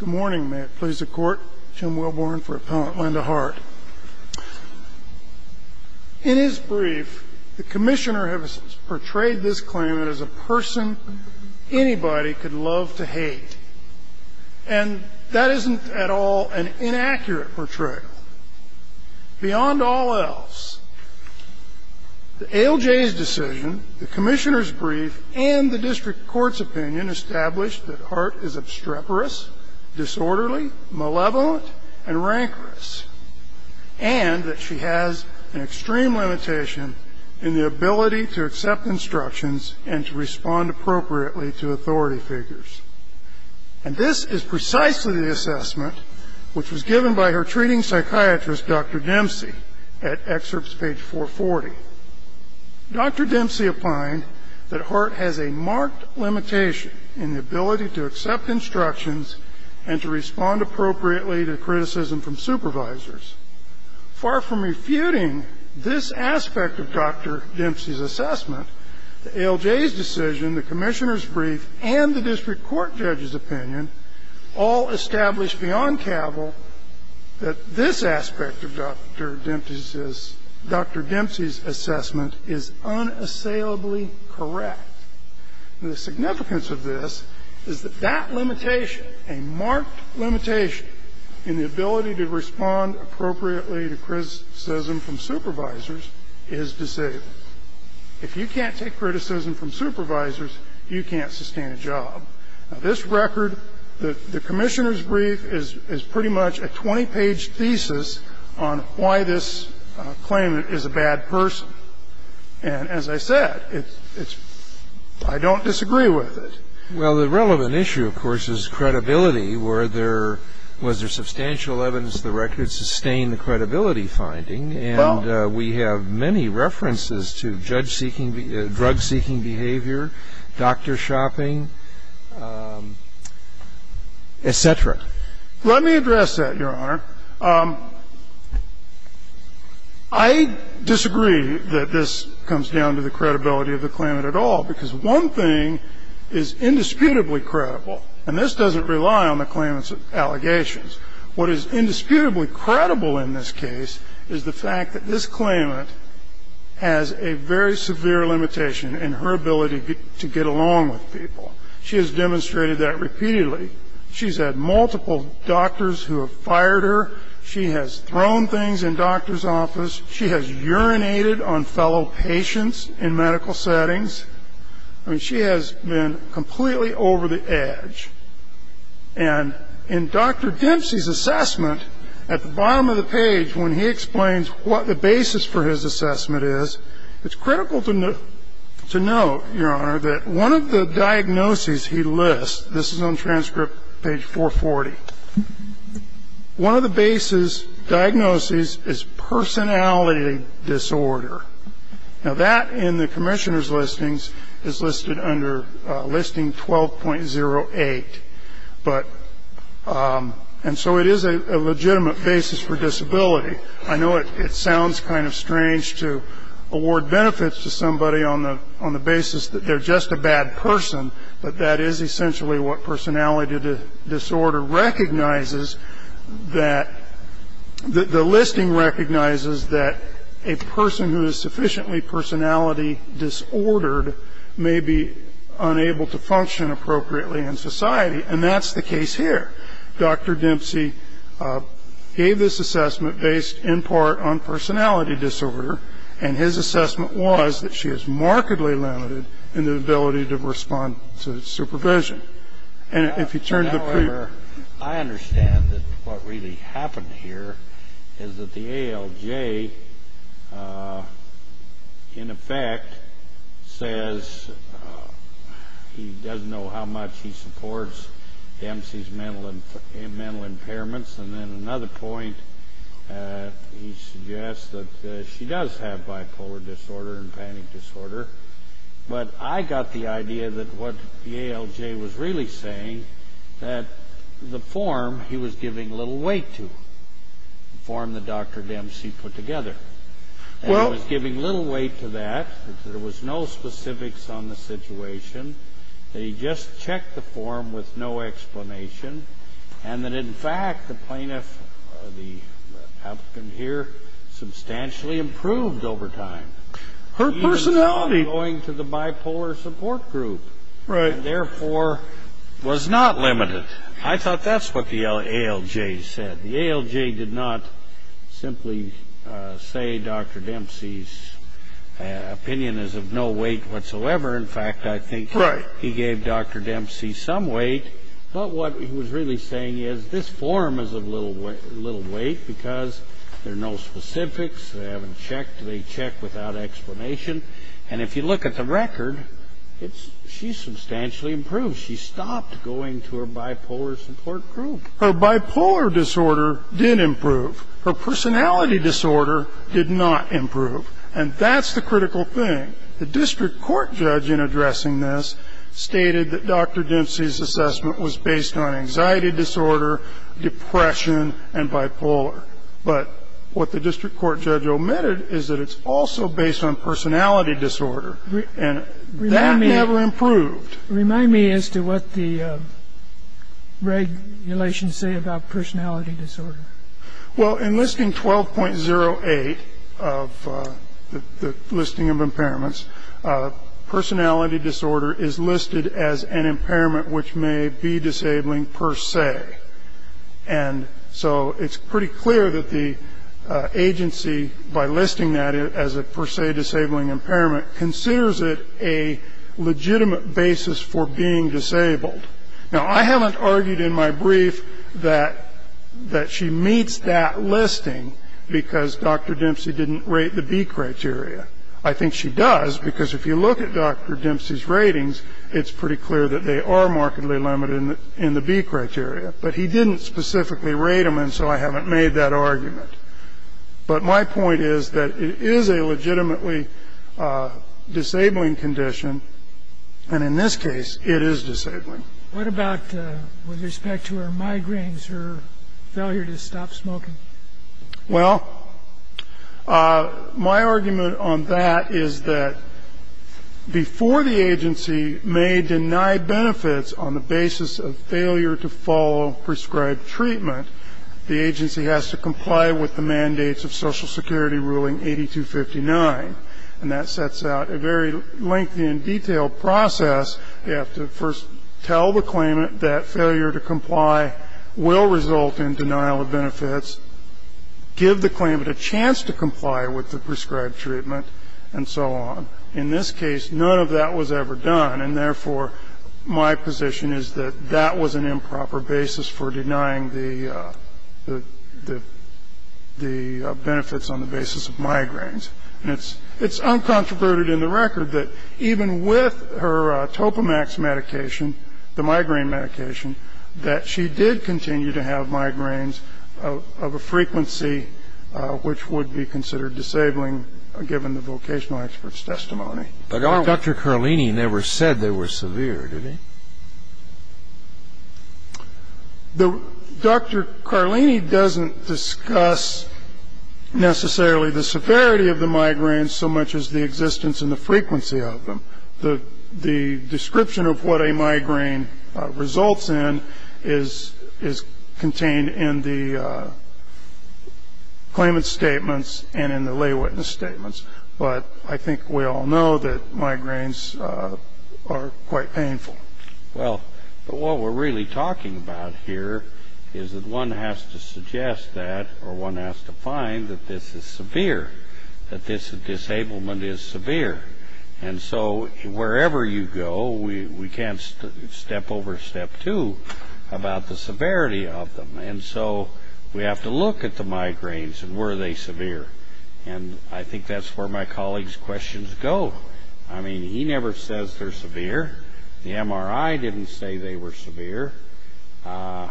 Good morning, may it please the court. Jim Wilborn for Appellant Linda Hart. In his brief, the Commissioner has portrayed this claimant as a person anybody could love to hate. And that isn't at all an inaccurate portrayal. Beyond all else, the ALJ's decision, the Commissioner's brief, and the District Court's opinion establish that Hart is obstreperous, disorderly, malevolent, and rancorous. And that she has an extreme limitation in the ability to accept instructions and to respond appropriately to authority figures. And this is precisely the assessment which was given by her treating psychiatrist, Dr. Dempsey, at excerpts page 440. Dr. Dempsey opined that Hart has a marked limitation in the ability to accept instructions and to respond appropriately to criticism from supervisors. Far from refuting this aspect of Dr. Dempsey's assessment, the ALJ's decision, the Commissioner's brief, and the District Court judge's opinion all establish that this aspect of Dr. Dempsey's assessment is unassailably correct. And the significance of this is that that limitation, a marked limitation in the ability to respond appropriately to criticism from supervisors, is disabled. If you can't take criticism from supervisors, you can't sustain a job. Now, this record, the Commissioner's brief, is pretty much a 20-page thesis on why this claimant is a bad person. And as I said, it's – I don't disagree with it. Well, the relevant issue, of course, is credibility. Were there – was there substantial evidence the record sustained the credibility finding? Well. And we have many references to judge-seeking – drug-seeking behavior, doctor shopping, et cetera. Let me address that, Your Honor. I disagree that this comes down to the credibility of the claimant at all, because one thing is indisputably credible, and this doesn't rely on the claimant's allegations. What is indisputably credible in this case is the fact that this claimant has a very severe limitation in her ability to get along with people. She has demonstrated that repeatedly. She's had multiple doctors who have fired her. She has thrown things in doctor's office. She has urinated on fellow patients in medical settings. I mean, she has been completely over the edge. And in Dr. Dempsey's assessment, at the bottom of the page, when he explains what the basis for his assessment is, it's critical to note, Your Honor, that one of the diagnoses he lists – this is on transcript page 440 – one of the basis diagnoses is personality disorder. Now, that in the commissioner's listings is listed under listing 12.08. And so it is a legitimate basis for disability. I know it sounds kind of strange to award benefits to somebody on the basis that they're just a bad person, but that is essentially what personality disorder recognizes, that the listing recognizes that a person who is sufficiently personality disordered may be unable to function appropriately in society. And that's the case here. Dr. Dempsey gave this assessment based in part on personality disorder, and his assessment was that she is markedly limited in her ability to respond to supervision. However, I understand that what really happened here is that the ALJ, in effect, says he doesn't know how much he supports Dempsey's mental impairments. And then another point, he suggests that she does have bipolar disorder and panic disorder. But I got the idea that what the ALJ was really saying, that the form he was giving little weight to, the form that Dr. Dempsey put together. And he was giving little weight to that, that there was no specifics on the situation, that he just checked the form with no explanation, and that, in fact, the plaintiff, the applicant here, substantially improved over time. Her personality. Even by going to the bipolar support group. Right. And, therefore, was not limited. I thought that's what the ALJ said. The ALJ did not simply say Dr. Dempsey's opinion is of no weight whatsoever. In fact, I think he gave Dr. Dempsey some weight. But what he was really saying is this form is of little weight because there are no specifics, they haven't checked, they check without explanation. And if you look at the record, she's substantially improved. She stopped going to her bipolar support group. Her bipolar disorder did improve. Her personality disorder did not improve. And that's the critical thing. The district court judge in addressing this stated that Dr. Dempsey's assessment was based on anxiety disorder, depression, and bipolar. But what the district court judge omitted is that it's also based on personality disorder. And that never improved. Remind me as to what the regulations say about personality disorder. Well, in Listing 12.08 of the listing of impairments, personality disorder is listed as an impairment which may be disabling per se. And so it's pretty clear that the agency, by listing that as a per se disabling impairment, considers it a legitimate basis for being disabled. Now, I haven't argued in my brief that she meets that listing because Dr. Dempsey didn't rate the B criteria. I think she does because if you look at Dr. Dempsey's ratings, it's pretty clear that they are markedly limited in the B criteria. But he didn't specifically rate them, and so I haven't made that argument. But my point is that it is a legitimately disabling condition. And in this case, it is disabling. What about with respect to her migraines, her failure to stop smoking? Well, my argument on that is that before the agency may deny benefits on the basis of failure to follow prescribed treatment, the agency has to comply with the mandates of Social Security ruling 8259. And that sets out a very lengthy and detailed process. You have to first tell the claimant that failure to comply will result in denial of benefits, give the claimant a chance to comply with the prescribed treatment, and so on. In this case, none of that was ever done, and therefore, my position is that that was an improper basis for denying the benefits on the basis of migraines. And it's uncontroverted in the record that even with her Topamax medication, the migraine medication, that she did continue to have migraines of a frequency which would be considered disabling, given the vocational expert's testimony. But Dr. Carlini never said they were severe, did he? Dr. Carlini doesn't discuss necessarily the severity of the migraines so much as the existence and the frequency of them. The description of what a migraine results in is contained in the claimant's statements and in the lay witness statements. But I think we all know that migraines are quite painful. Well, what we're really talking about here is that one has to suggest that, or one has to find that this is severe, that this disablement is severe. And so wherever you go, we can't step over step two about the severity of them. And so we have to look at the migraines and were they severe. And I think that's where my colleague's questions go. I mean, he never says they're severe. The MRI didn't say they were severe. The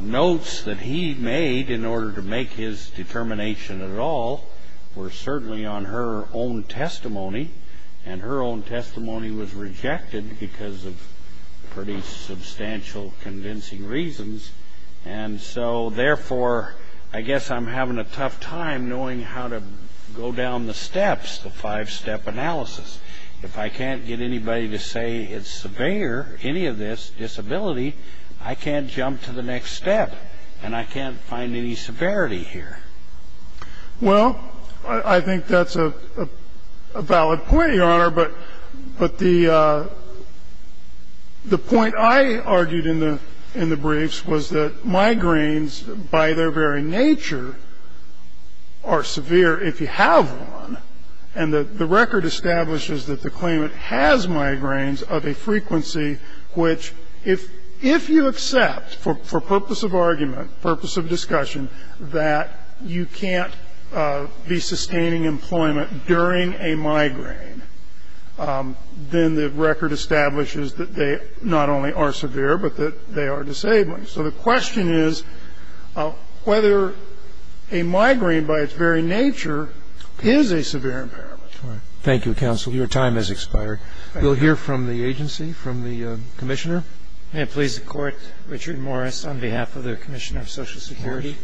notes that he made in order to make his determination at all were certainly on her own testimony. And her own testimony was rejected because of pretty substantial convincing reasons. And so, therefore, I guess I'm having a tough time knowing how to go down the steps, the five-step analysis. If I can't get anybody to say it's severe, any of this disability, I can't jump to the next step and I can't find any severity here. Well, I think that's a valid point, Your Honor. But the point I argued in the briefs was that migraines, by their very nature, are severe if you have one. And the record establishes that the claimant has migraines of a frequency which, if you accept, for purpose of argument, purpose of discussion, that you can't be sustaining employment during a migraine, then the record establishes that they not only are severe but that they are disabled. So the question is whether a migraine, by its very nature, is a severe impairment. Your time has expired. We'll hear from the agency, from the commissioner. May it please the Court. Richard Morris on behalf of the Commissioner of Social Security.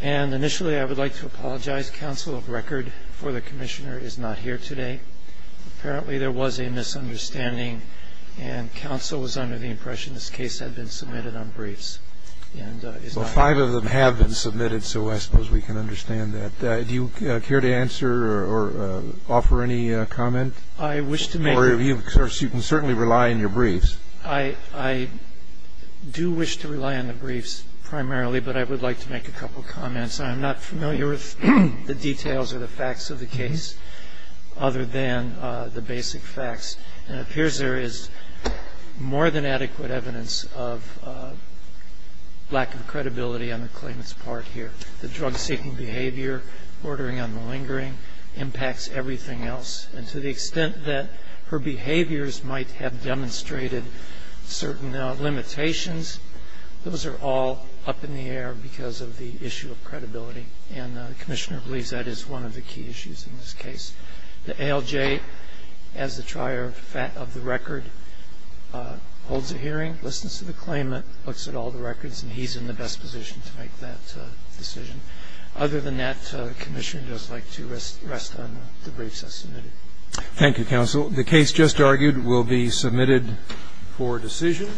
And, initially, I would like to apologize. Counsel of record for the commissioner is not here today. Apparently, there was a misunderstanding and counsel was under the impression this case had been submitted on briefs. Well, five of them have been submitted, so I suppose we can understand that. Do you care to answer or offer any comment? I wish to make a comment. Of course, you can certainly rely on your briefs. I do wish to rely on the briefs primarily, but I would like to make a couple comments. I'm not familiar with the details or the facts of the case other than the basic facts, and it appears there is more than adequate evidence of lack of credibility on the claimant's part here. The drug-seeking behavior, ordering on the lingering impacts everything else, and to the extent that her behaviors might have demonstrated certain limitations, those are all up in the air because of the issue of credibility, and the commissioner believes that is one of the key issues in this case. The ALJ, as the trier of the record, holds a hearing, listens to the claimant, looks at all the records, and he's in the best position to make that decision. Other than that, the commissioner would just like to rest on the briefs that are submitted. Thank you, counsel. The case just argued will be submitted for decision.